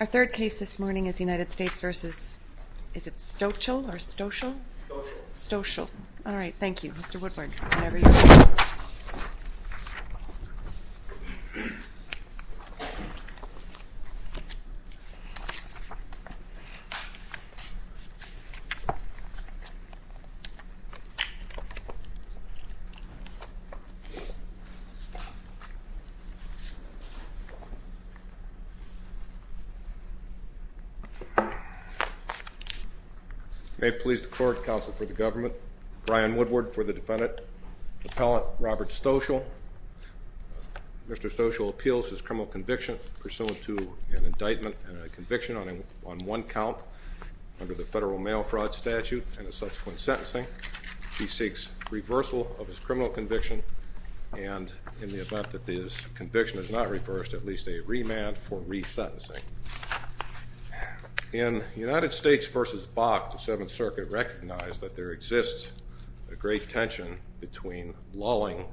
Our third case this morning is United States v. Stochel. May it please the court, counsel for the government, Brian Woodward for the defendant, appellant Robert Stochel. Mr. Stochel appeals his criminal conviction pursuant to an indictment and a conviction on one count under the federal mail fraud statute and a subsequent sentencing. He seeks reversal of his criminal conviction, and in the event that his conviction is not reversed, at least a remand for resentencing. In United States v. Bach, the Seventh Circuit recognized that there exists a great tension between lulling,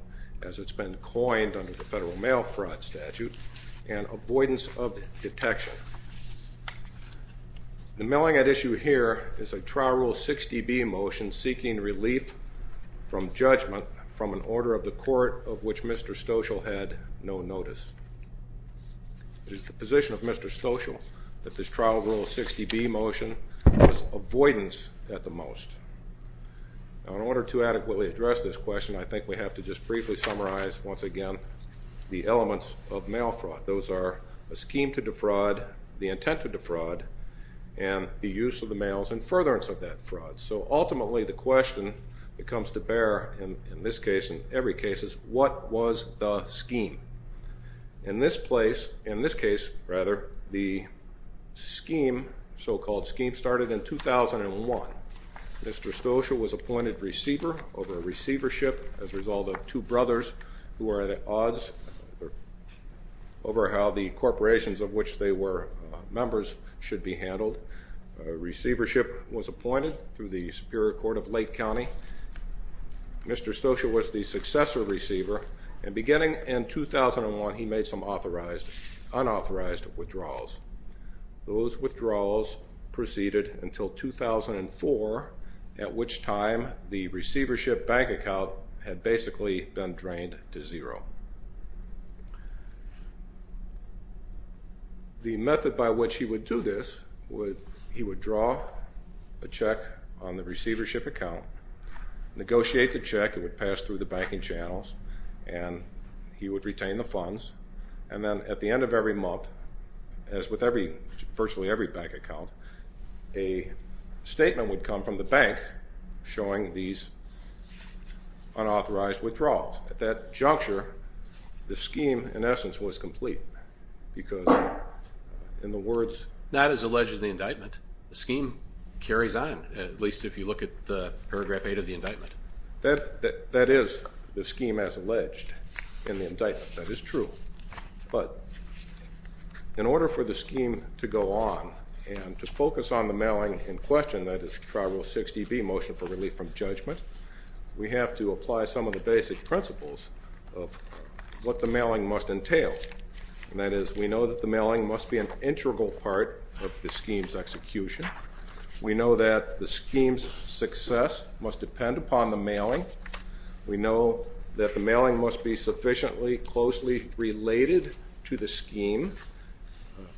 as it's been coined under the federal mail fraud statute, and avoidance of detection. The milling at issue here is a trial rule 60B motion seeking relief from judgment from an order of the court of which Mr. Stochel had no notice. It is the position of Mr. Stochel that this trial rule 60B motion is avoidance at the most. Now, in order to adequately address this question, I think we have to just briefly summarize, once again, the elements of mail fraud. Those are a scheme to defraud, the intent to defraud, and the use of the mails in furtherance of that fraud. So ultimately, the question that comes to bear in this case, in every case, is what was the scheme? In this place, in this case, rather, the scheme, so-called scheme, started in 2001. Mr. Stochel was appointed receiver over a receivership as a result of two brothers who were at odds over how the corporations of which they were members should be handled. Receivership was appointed through the Superior Court of Lake County. Mr. Stochel was the successor receiver, and beginning in 2001, he made some unauthorized withdrawals. Those withdrawals proceeded until 2004, at which time the receivership bank account had basically been drained to zero. The method by which he would do this, he would draw a check on the receivership account, negotiate the check. It would pass through the banking channels, and he would retain the funds. And then at the end of every month, as with virtually every bank account, a statement would come from the bank showing these unauthorized withdrawals. At that juncture, the scheme, in essence, was complete because, in the words- Not as alleged in the indictment. The scheme carries on, at least if you look at the paragraph 8 of the indictment. That is the scheme as alleged in the indictment. That is true. But in order for the scheme to go on and to focus on the mailing in question, that is Tri-Rule 60B, Motion for Relief from Judgment, we have to apply some of the basic principles of what the mailing must entail. That is, we know that the mailing must be an integral part of the scheme's execution. We know that the scheme's success must depend upon the mailing. We know that the mailing must be sufficiently closely related to the scheme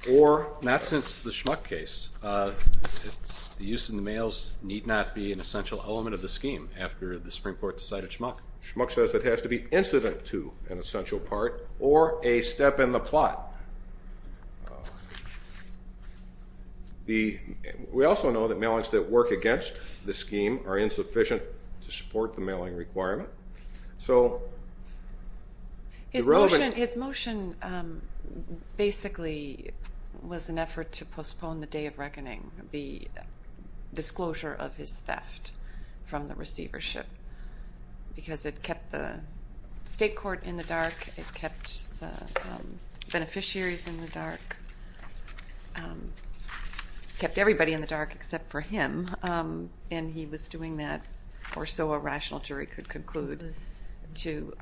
or, not since the Schmuck case, the use of the mails need not be an essential element of the scheme after the Supreme Court decided Schmuck. Schmuck says it has to be incident to an essential part or a step in the plot. We also know that mailings that work against the scheme are insufficient to support the mailing requirement. So, the relevant... His motion basically was an effort to postpone the Day of Reckoning, the disclosure of his theft from the receivership, because it kept the state court in the dark, it kept the beneficiaries in the dark, it kept everybody in the dark except for him, and he was doing that or so a rational jury could conclude to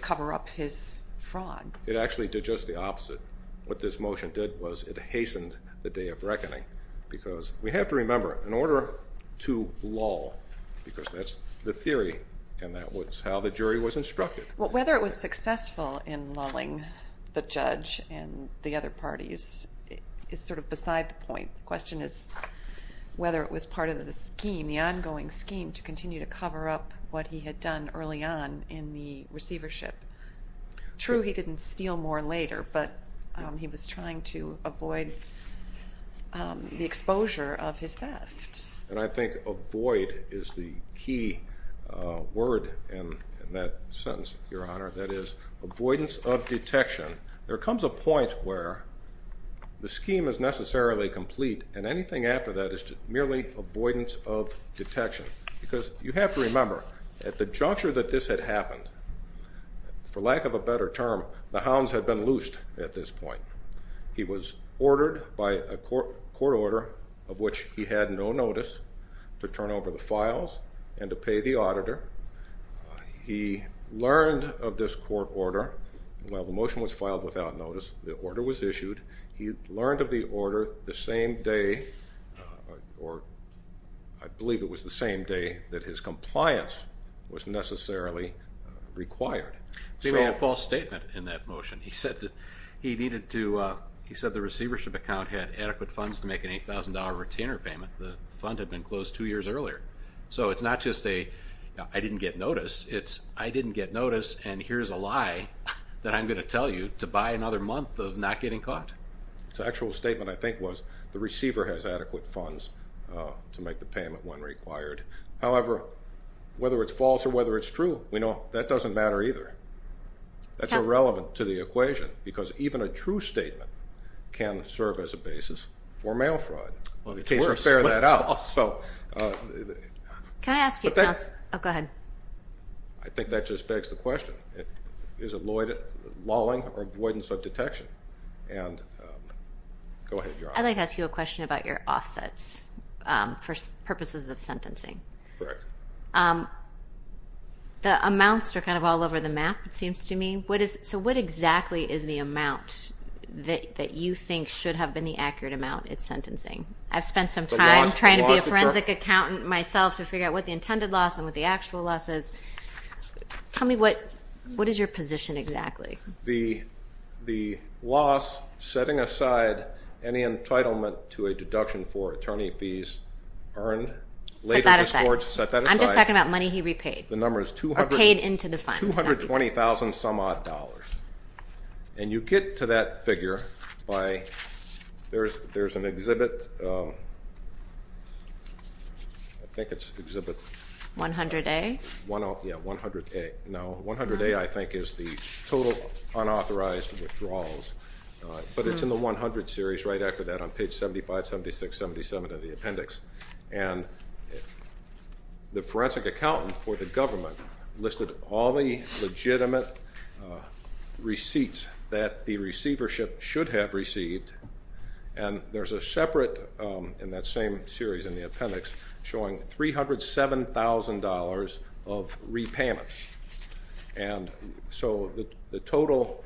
cover up his fraud. It actually did just the opposite. What this motion did was it hastened the Day of Reckoning, because we have to remember, in order to lull, because that's the theory and that was how the jury was instructed... The judge and the other parties is sort of beside the point. The question is whether it was part of the scheme, the ongoing scheme, to continue to cover up what he had done early on in the receivership. True, he didn't steal more later, but he was trying to avoid the exposure of his theft. And I think avoid is the key word in that sentence, Your Honor. That is avoidance of detection. There comes a point where the scheme is necessarily complete, and anything after that is merely avoidance of detection. Because you have to remember, at the juncture that this had happened, for lack of a better term, the hounds had been loosed at this point. He was ordered by a court order of which he had no notice to turn over the files and to pay the auditor. He learned of this court order. Well, the motion was filed without notice. The order was issued. He learned of the order the same day, or I believe it was the same day, that his compliance was necessarily required. He made a false statement in that motion. He said the receivership account had adequate funds to make an $8,000 retainer payment. The fund had been closed two years earlier. So it's not just a, I didn't get notice. It's, I didn't get notice, and here's a lie that I'm going to tell you to buy another month of not getting caught. The actual statement, I think, was the receiver has adequate funds to make the payment when required. However, whether it's false or whether it's true, we know that doesn't matter either. That's irrelevant to the equation because even a true statement can serve as a basis for mail fraud. Fair that out. Can I ask you? Oh, go ahead. I think that just begs the question. Is it lawing or avoidance of detection? And go ahead. I'd like to ask you a question about your offsets for purposes of sentencing. Correct. The amounts are kind of all over the map, it seems to me. So what exactly is the amount that you think should have been the accurate amount at sentencing? I've spent some time trying to be a forensic accountant myself to figure out what the intended loss and what the actual loss is. Tell me what is your position exactly? The loss setting aside any entitlement to a deduction for attorney fees earned later in this court. Set that aside. I'm just talking about money he repaid. Or paid into the fund. $220,000 some odd dollars. And you get to that figure by, there's an exhibit, I think it's exhibit... 100A? Yeah, 100A. No, 100A I think is the total unauthorized withdrawals. But it's in the 100 series right after that on page 75, 76, 77 of the appendix. And the forensic accountant for the government listed all the legitimate receipts that the receivership should have received. And there's a separate in that same series in the appendix showing $307,000 of repayments. And so the total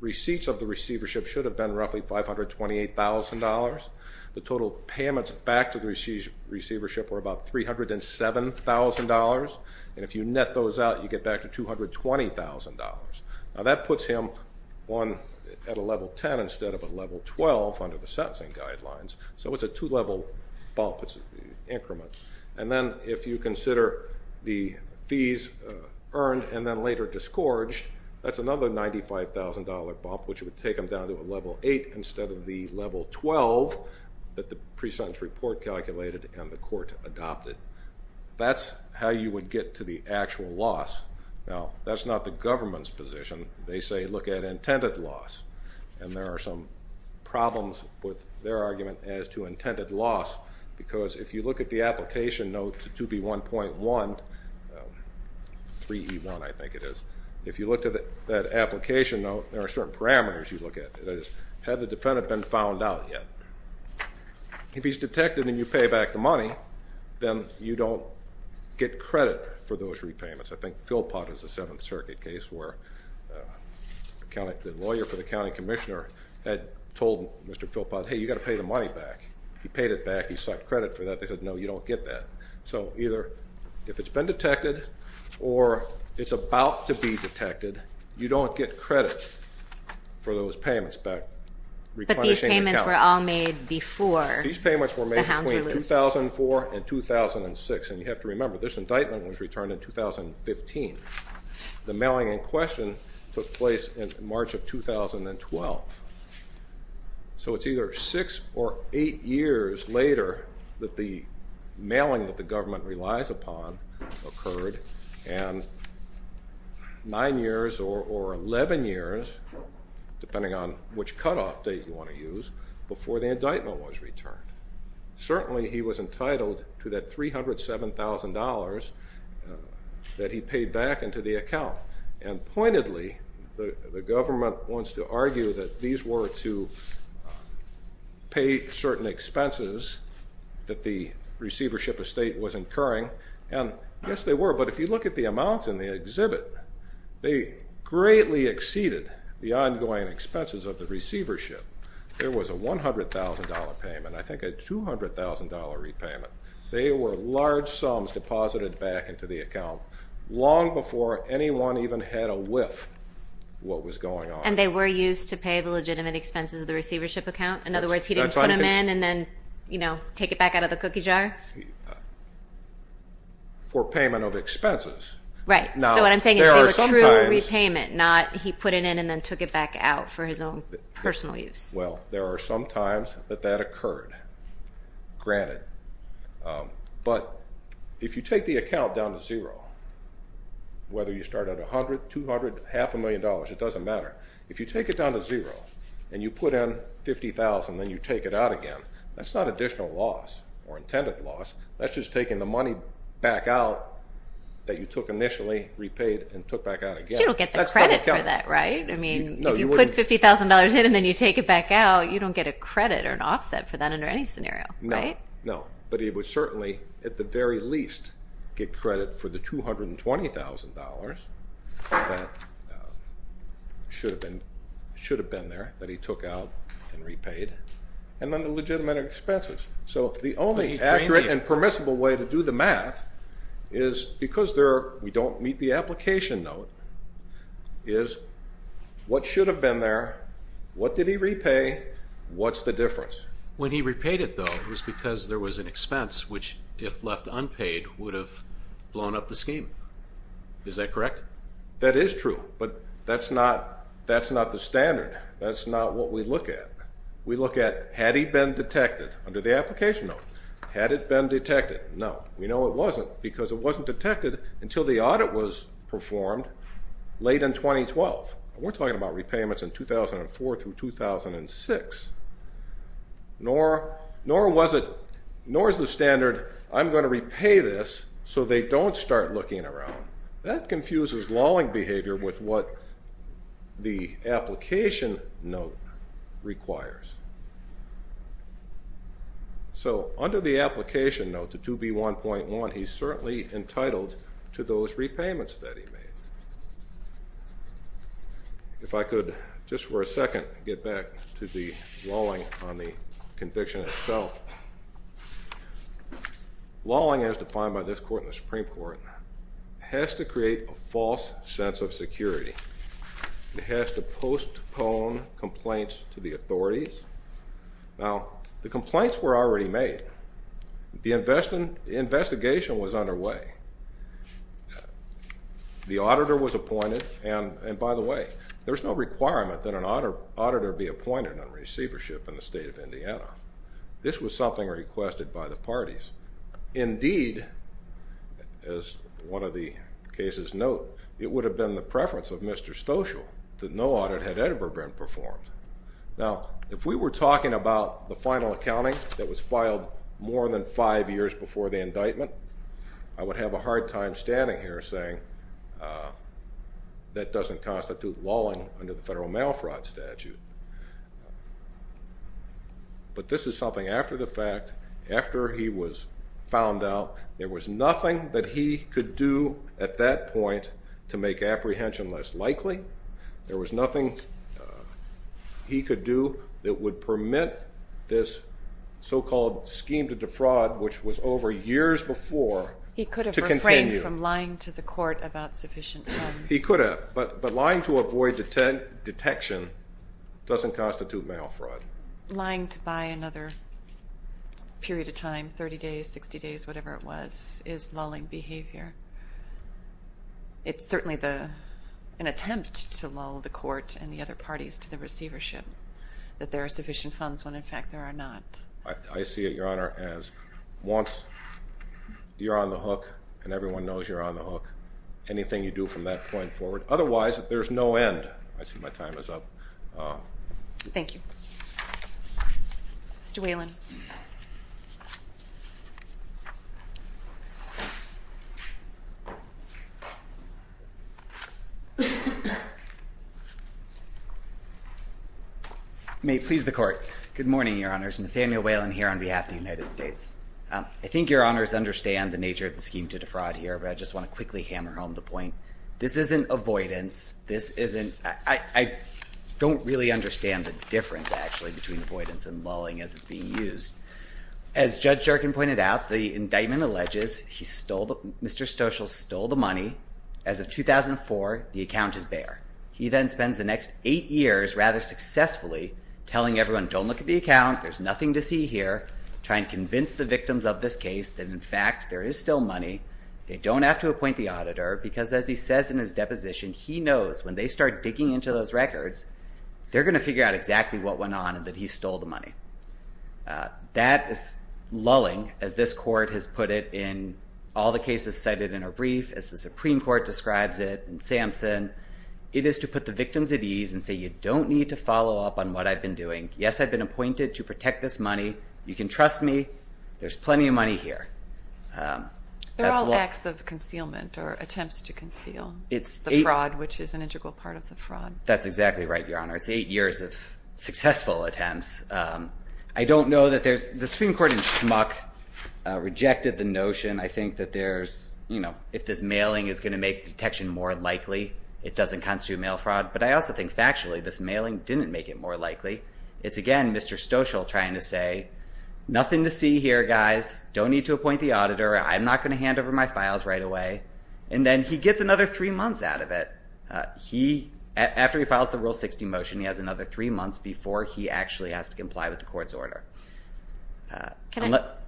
receipts of the receivership should have been roughly $528,000. The total payments back to the receivership were about $307,000. And if you net those out, you get back to $220,000. Now that puts him at a level 10 instead of a level 12 under the sentencing guidelines. So it's a two-level bump, it's an increment. And then if you consider the fees earned and then later disgorged, that's another $95,000 bump, which would take him down to a level 8 instead of the level 12 that the pre-sentence report calculated and the court adopted. That's how you would get to the actual loss. Now, that's not the government's position. They say look at intended loss, and there are some problems with their argument as to intended loss because if you look at the application note to 2B1.1, 3E1 I think it is, if you look at that application note, there are certain parameters you look at. That is, had the defendant been found out yet? If he's detected and you pay back the money, then you don't get credit for those repayments. I think Philpott is a Seventh Circuit case where the lawyer for the county commissioner had told Mr. Philpott, hey, you've got to pay the money back. He paid it back, he sought credit for that. They said, no, you don't get that. So either if it's been detected or it's about to be detected, you don't get credit for those payments back. But these payments were all made before the hounds were loosed. These payments were made between 2004 and 2006. And you have to remember, this indictment was returned in 2015. The mailing in question took place in March of 2012. So it's either six or eight years later that the mailing that the government relies upon occurred, and nine years or 11 years, depending on which cutoff date you want to use, before the indictment was returned. Certainly he was entitled to that $307,000 that he paid back into the account. And pointedly, the government wants to argue that these were to pay certain expenses that the receivership estate was incurring. And yes, they were. But if you look at the amounts in the exhibit, they greatly exceeded the ongoing expenses of the receivership. There was a $100,000 payment, I think a $200,000 repayment. They were large sums deposited back into the account long before anyone even had a whiff what was going on. And they were used to pay the legitimate expenses of the receivership account? In other words, he didn't put them in and then take it back out of the cookie jar? For payment of expenses. Right. So what I'm saying is they were true repayment, not he put it in and then took it back out for his own personal use. Well, there are some times that that occurred. Granted. But if you take the account down to zero, whether you start at $100,000, $200,000, half a million dollars, it doesn't matter. If you take it down to zero and you put in $50,000 and then you take it out again, that's not additional loss or intended loss. That's just taking the money back out that you took initially, repaid, and took back out again. You don't get the credit for that, right? I mean, if you put $50,000 in and then you take it back out, you don't get a credit or an offset for that under any scenario, right? No, but he would certainly, at the very least, get credit for the $220,000 that should have been there that he took out and repaid, and then the legitimate expenses. So the only accurate and permissible way to do the math is, because we don't meet the application note, is what should have been there, what did he repay, what's the difference? When he repaid it, though, it was because there was an expense, which if left unpaid, would have blown up the scheme. Is that correct? That is true, but that's not the standard. That's not what we look at. We look at had he been detected under the application note. Had it been detected? No, we know it wasn't because it wasn't detected until the audit was performed late in 2012. We're talking about repayments in 2004 through 2006. Nor is the standard, I'm going to repay this so they don't start looking around. That confuses lawing behavior with what the application note requires. So under the application note, the 2B1.1, he's certainly entitled to those repayments that he made. If I could, just for a second, get back to the lawing on the conviction itself. Lawing, as defined by this Court in the Supreme Court, has to create a false sense of security. It has to postpone complaints to the authorities. Now, the complaints were already made. The investigation was underway. The auditor was appointed, and by the way, there's no requirement that an auditor be appointed on receivership in the State of Indiana. This was something requested by the parties. Indeed, as one of the cases note, it would have been the preference of Mr. Stoschel that no audit had ever been performed. Now, if we were talking about the final accounting that was filed more than five years before the indictment, I would have a hard time standing here saying that doesn't constitute lawing under the federal mail fraud statute. But this is something after the fact, after he was found out. There was nothing that he could do at that point to make apprehension less likely. There was nothing he could do that would permit this so-called scheme to defraud, which was over years before, to continue. He could have refrained from lying to the court about sufficient funds. He could have, but lying to avoid detection doesn't constitute mail fraud. Lying to buy another period of time, 30 days, 60 days, whatever it was, is lulling behavior. It's certainly an attempt to lull the court and the other parties to the receivership that there are sufficient funds when, in fact, there are not. I see it, Your Honor, as once you're on the hook and everyone knows you're on the hook, anything you do from that point forward. Otherwise, there's no end. I see my time is up. Thank you. Mr. Whelan. May it please the court. Good morning, Your Honors. Nathaniel Whelan here on behalf of the United States. I think Your Honors understand the nature of the scheme to defraud here, but I just want to quickly hammer home the point. This isn't avoidance. I don't really understand the difference, actually, between avoidance and lulling as it's being used. As Judge Jerkin pointed out, the indictment alleges Mr. Stoeschel stole the money. As of 2004, the account is bare. He then spends the next eight years, rather successfully, telling everyone, don't look at the account. There's nothing to see here. Trying to convince the victims of this case that, in fact, there is still money. They don't have to appoint the auditor because, as he says in his deposition, he knows when they start digging into those records, they're going to figure out exactly what went on and that he stole the money. That is lulling, as this court has put it in all the cases cited in a brief, as the Supreme Court describes it, and Samson. It is to put the victims at ease and say, you don't need to follow up on what I've been doing. Yes, I've been appointed to protect this money. You can trust me. There's plenty of money here. They're all acts of concealment or attempts to conceal the fraud, which is an integral part of the fraud. That's exactly right, Your Honor. It's eight years of successful attempts. I don't know that there's – the Supreme Court in Schmuck rejected the notion, I think, that there's – if this mailing is going to make detection more likely, it doesn't constitute mail fraud. But I also think factually this mailing didn't make it more likely. It's, again, Mr. Stoschel trying to say, nothing to see here, guys. Don't need to appoint the auditor. I'm not going to hand over my files right away. And then he gets another three months out of it. He – after he files the Rule 60 motion, he has another three months before he actually has to comply with the court's order. Can I –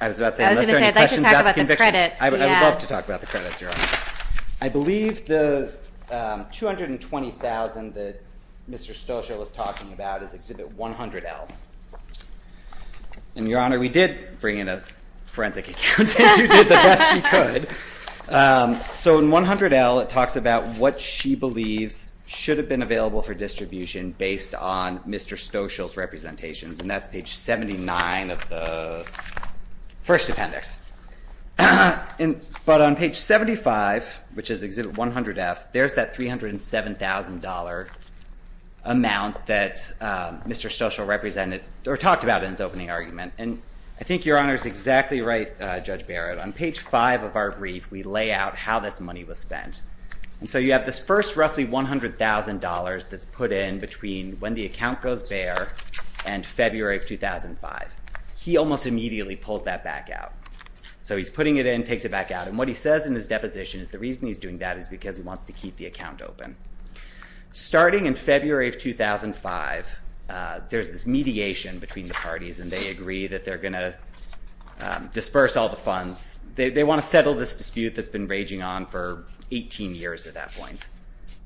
I was about to say, unless there are any questions about the conviction. I was going to say, I'd like to talk about the credits. I would love to talk about the credits, Your Honor. I believe the $220,000 that Mr. Stoschel was talking about is Exhibit 100L. And, Your Honor, we did bring in a forensic accountant who did the best she could. So in 100L, it talks about what she believes should have been available for distribution based on Mr. Stoschel's representations. And that's page 79 of the first appendix. But on page 75, which is Exhibit 100F, there's that $307,000 amount that Mr. Stoschel represented – or talked about in his opening argument. And I think Your Honor is exactly right, Judge Barrett. On page 5 of our brief, we lay out how this money was spent. And so you have this first roughly $100,000 that's put in between when the account goes bare and February of 2005. He almost immediately pulls that back out. So he's putting it in, takes it back out. And what he says in his deposition is the reason he's doing that is because he wants to keep the account open. Starting in February of 2005, there's this mediation between the parties, and they agree that they're going to disperse all the funds. They want to settle this dispute that's been raging on for 18 years at that point.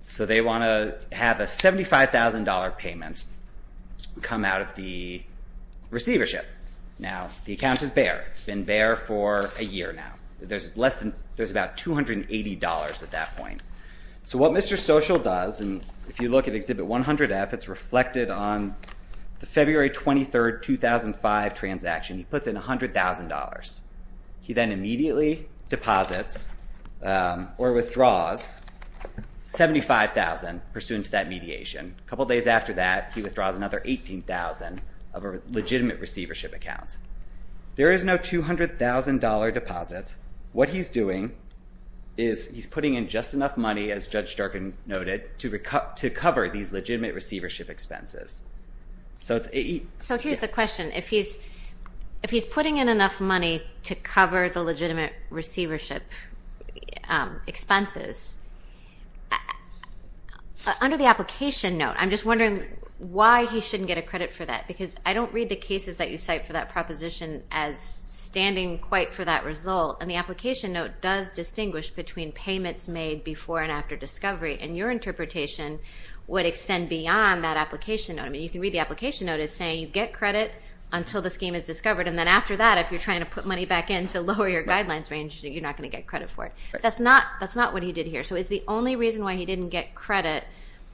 So they want to have a $75,000 payment come out of the receivership. Now, the account is bare. It's been bare for a year now. There's about $280 at that point. So what Mr. Stoschel does, and if you look at Exhibit 100F, it's reflected on the February 23, 2005 transaction. He puts in $100,000. He then immediately deposits or withdraws $75,000 pursuant to that mediation. A couple days after that, he withdraws another $18,000 of a legitimate receivership account. There is no $200,000 deposit. What he's doing is he's putting in just enough money, as Judge Durkan noted, to cover these legitimate receivership expenses. So here's the question. If he's putting in enough money to cover the legitimate receivership expenses, under the application note, I'm just wondering why he shouldn't get a credit for that, because I don't read the cases that you cite for that proposition as standing quite for that result, and the application note does distinguish between payments made before and after discovery, and your interpretation would extend beyond that application note. I mean, you can read the application note as saying you get credit until the scheme is discovered, and then after that, if you're trying to put money back in to lower your guidelines range, you're not going to get credit for it. That's not what he did here. So is the only reason why he didn't get credit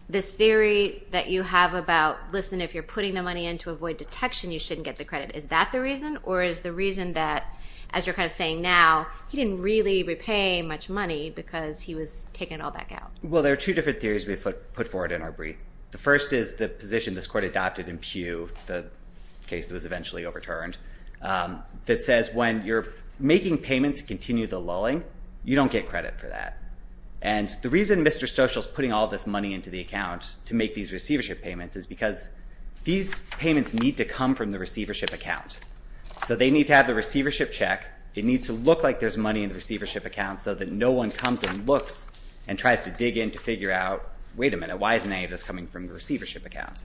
this theory that you have about, listen, if you're putting the money in to avoid detection, you shouldn't get the credit? Is that the reason, or is the reason that, as you're kind of saying now, he didn't really repay much money because he was taking it all back out? Well, there are two different theories we put forward in our brief. The first is the position this court adopted in Pew, the case that was eventually overturned, that says when you're making payments to continue the lulling, you don't get credit for that. And the reason Mr. Stoschel is putting all this money into the account to make these receivership payments is because these payments need to come from the receivership account. So they need to have the receivership check. It needs to look like there's money in the receivership account so that no one comes and looks and tries to dig in to figure out, wait a minute, why isn't any of this coming from the receivership account?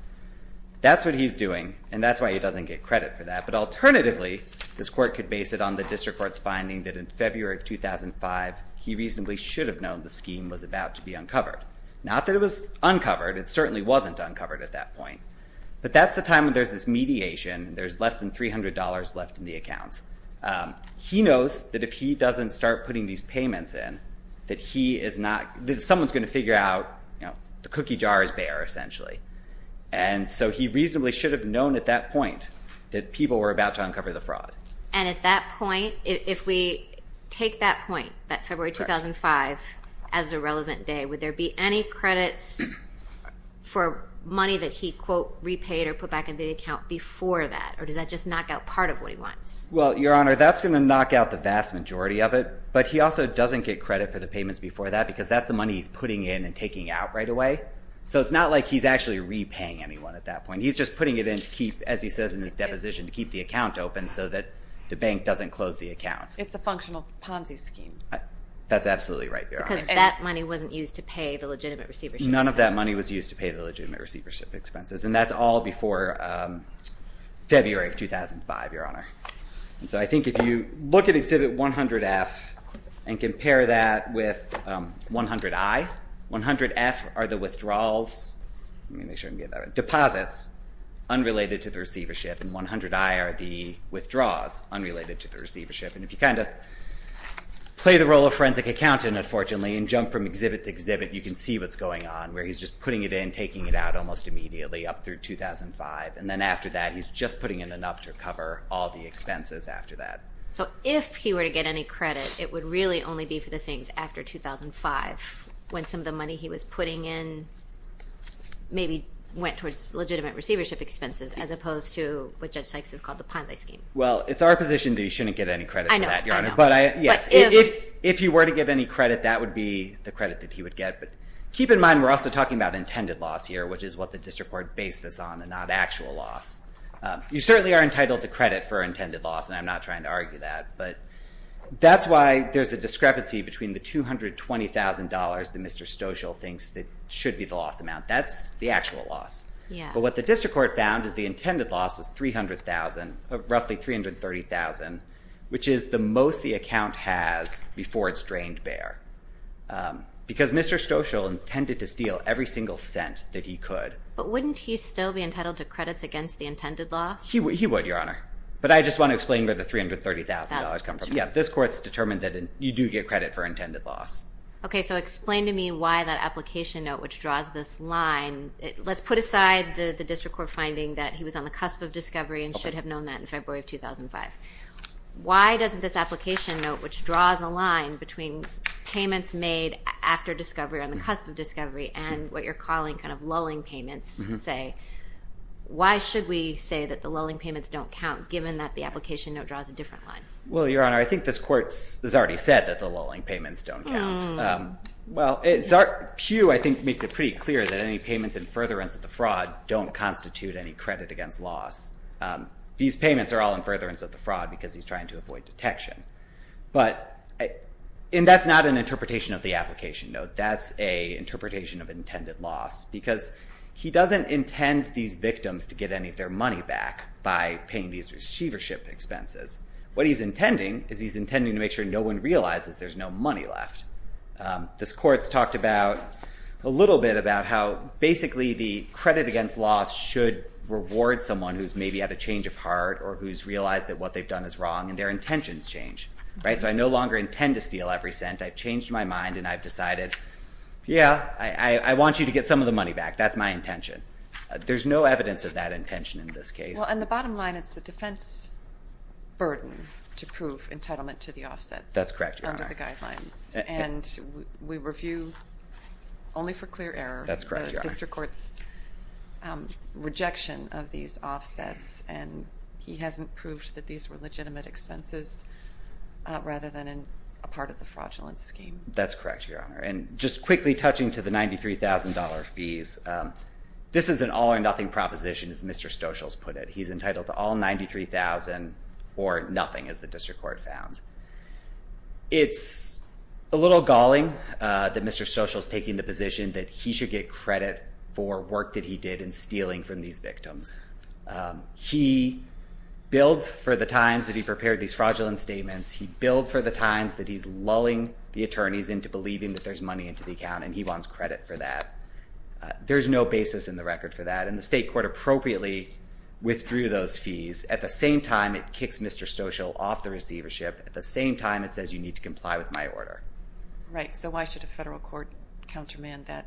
That's what he's doing, and that's why he doesn't get credit for that. But alternatively, this court could base it on the district court's finding that in February of 2005, he reasonably should have known the scheme was about to be uncovered. Not that it was uncovered. It certainly wasn't uncovered at that point. But that's the time when there's this mediation, and there's less than $300 left in the accounts. He knows that if he doesn't start putting these payments in, that he is not – that someone's going to figure out, you know, the cookie jar is bare, essentially. And so he reasonably should have known at that point that people were about to uncover the fraud. And at that point, if we take that point, that February 2005, as a relevant day, would there be any credits for money that he, quote, repaid or put back in the account before that? Or does that just knock out part of what he wants? Well, Your Honor, that's going to knock out the vast majority of it. But he also doesn't get credit for the payments before that because that's the money he's putting in and taking out right away. So it's not like he's actually repaying anyone at that point. He's just putting it in to keep, as he says in his deposition, to keep the account open so that the bank doesn't close the account. It's a functional Ponzi scheme. That's absolutely right, Your Honor. Because that money wasn't used to pay the legitimate receivership expenses. None of that money was used to pay the legitimate receivership expenses, and that's all before February of 2005, Your Honor. So I think if you look at Exhibit 100-F and compare that with 100-I, 100-F are the withdrawals, let me make sure I can get that right, deposits, unrelated to the receivership. And 100-I are the withdraws, unrelated to the receivership. And if you kind of play the role of forensic accountant, unfortunately, and jump from exhibit to exhibit, you can see what's going on, where he's just putting it in, taking it out almost immediately up through 2005. And then after that, he's just putting in enough to cover all the expenses after that. So if he were to get any credit, it would really only be for the things after 2005, when some of the money he was putting in maybe went towards legitimate receivership expenses, as opposed to what Judge Sykes has called the Ponzi scheme. Well, it's our position that he shouldn't get any credit for that, Your Honor. I know, I know. But yes, if he were to get any credit, that would be the credit that he would get. But keep in mind, we're also talking about intended loss here, which is what the district court based this on, and not actual loss. You certainly are entitled to credit for intended loss, and I'm not trying to argue that. But that's why there's a discrepancy between the $220,000 that Mr. Stoschel thinks that should be the loss amount. That's the actual loss. But what the district court found is the intended loss was roughly $330,000, which is the most the account has before it's drained bare. Because Mr. Stoschel intended to steal every single cent that he could. But wouldn't he still be entitled to credits against the intended loss? He would, Your Honor. But I just want to explain where the $330,000 comes from. Yeah, this court's determined that you do get credit for intended loss. Okay, so explain to me why that application note, which draws this line, let's put aside the district court finding that he was on the cusp of discovery and should have known that in February of 2005. Why doesn't this application note, which draws a line between payments made after discovery or on the cusp of discovery and what you're calling kind of lulling payments, say, why should we say that the lulling payments don't count, given that the application note draws a different line? Well, Your Honor, I think this court has already said that the lulling payments don't count. Well, Zark Pugh, I think, makes it pretty clear that any payments in furtherance of the fraud don't constitute any credit against loss. These payments are all in furtherance of the fraud because he's trying to avoid detection. But that's not an interpretation of the application note. That's an interpretation of intended loss because he doesn't intend these victims to get any of their money back by paying these receivership expenses. What he's intending is he's intending to make sure no one realizes there's no money left. This court's talked a little bit about how basically the credit against loss should reward someone who's maybe had a change of heart or who's realized that what they've done is wrong, and their intentions change. So I no longer intend to steal every cent. I've changed my mind, and I've decided, yeah, I want you to get some of the money back. That's my intention. There's no evidence of that intention in this case. Well, on the bottom line, it's the defense burden to prove entitlement to the offsets. That's correct, Your Honor. And we review only for clear error the district court's rejection of these offsets, and he hasn't proved that these were legitimate expenses rather than a part of the fraudulent scheme. That's correct, Your Honor. And just quickly touching to the $93,000 fees, this is an all-or-nothing proposition, as Mr. Stoshels put it. He's entitled to all $93,000 or nothing, as the district court founds. It's a little galling that Mr. Stoshels is taking the position that he should get credit for work that he did in stealing from these victims. He billed for the times that he prepared these fraudulent statements. He billed for the times that he's lulling the attorneys into believing that there's money into the account, and he wants credit for that. There's no basis in the record for that, and the state court appropriately withdrew those fees. At the same time, it kicks Mr. Stoshels off the receivership. At the same time, it says you need to comply with my order. Right. So why should a federal court countermand that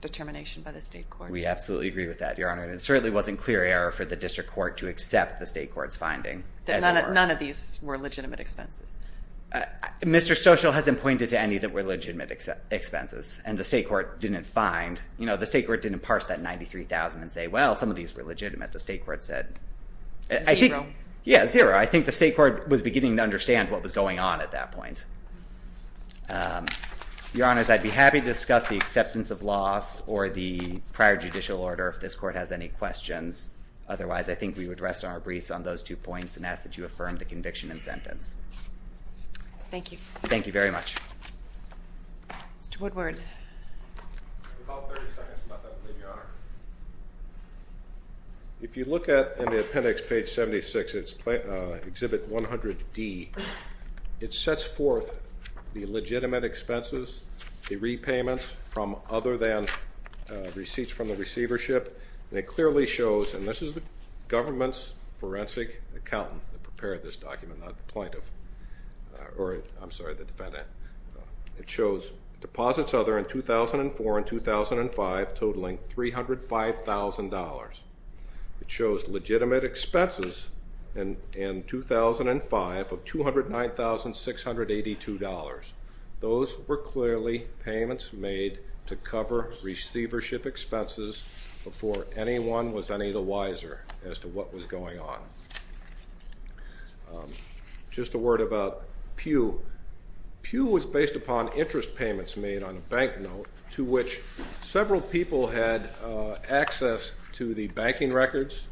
determination by the state court? We absolutely agree with that, Your Honor. And it certainly wasn't clear error for the district court to accept the state court's finding. None of these were legitimate expenses? Mr. Stoshels hasn't pointed to any that were legitimate expenses, and the state court didn't find. The state court didn't parse that $93,000 and say, well, some of these were legitimate. The state court said. Zero. Yeah, zero. I think the state court was beginning to understand what was going on at that point. Your Honors, I'd be happy to discuss the acceptance of loss or the prior judicial order if this court has any questions. Otherwise, I think we would rest on our briefs on those two points and ask that you affirm the conviction and sentence. Thank you. Thank you very much. Mr. Woodward. About 30 seconds left, I believe, Your Honor. If you look at the appendix, page 76, it's Exhibit 100D. It sets forth the legitimate expenses, the repayments from other than receipts from the receivership, and it clearly shows, and this is the government's forensic accountant that prepared this document, not the plaintiff. Or, I'm sorry, the defendant. It shows deposits other than 2004 and 2005 totaling $305,000. It shows legitimate expenses in 2005 of $209,682. Those were clearly payments made to cover receivership expenses before anyone was any the wiser as to what was going on. Just a word about Pew. Pew was based upon interest payments made on a bank note to which several people had access to the banking records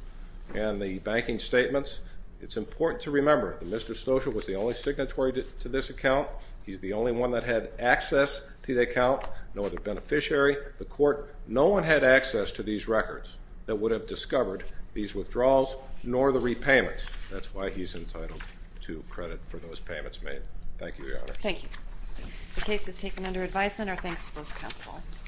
and the banking statements. It's important to remember that Mr. Stoschel was the only signatory to this account. He's the only one that had access to the account, nor the beneficiary, the court. No one had access to these records that would have discovered these withdrawals nor the repayments. That's why he's entitled to credit for those payments made. Thank you, Your Honor. Thank you. The case is taken under advisement. Our thanks to both counsel.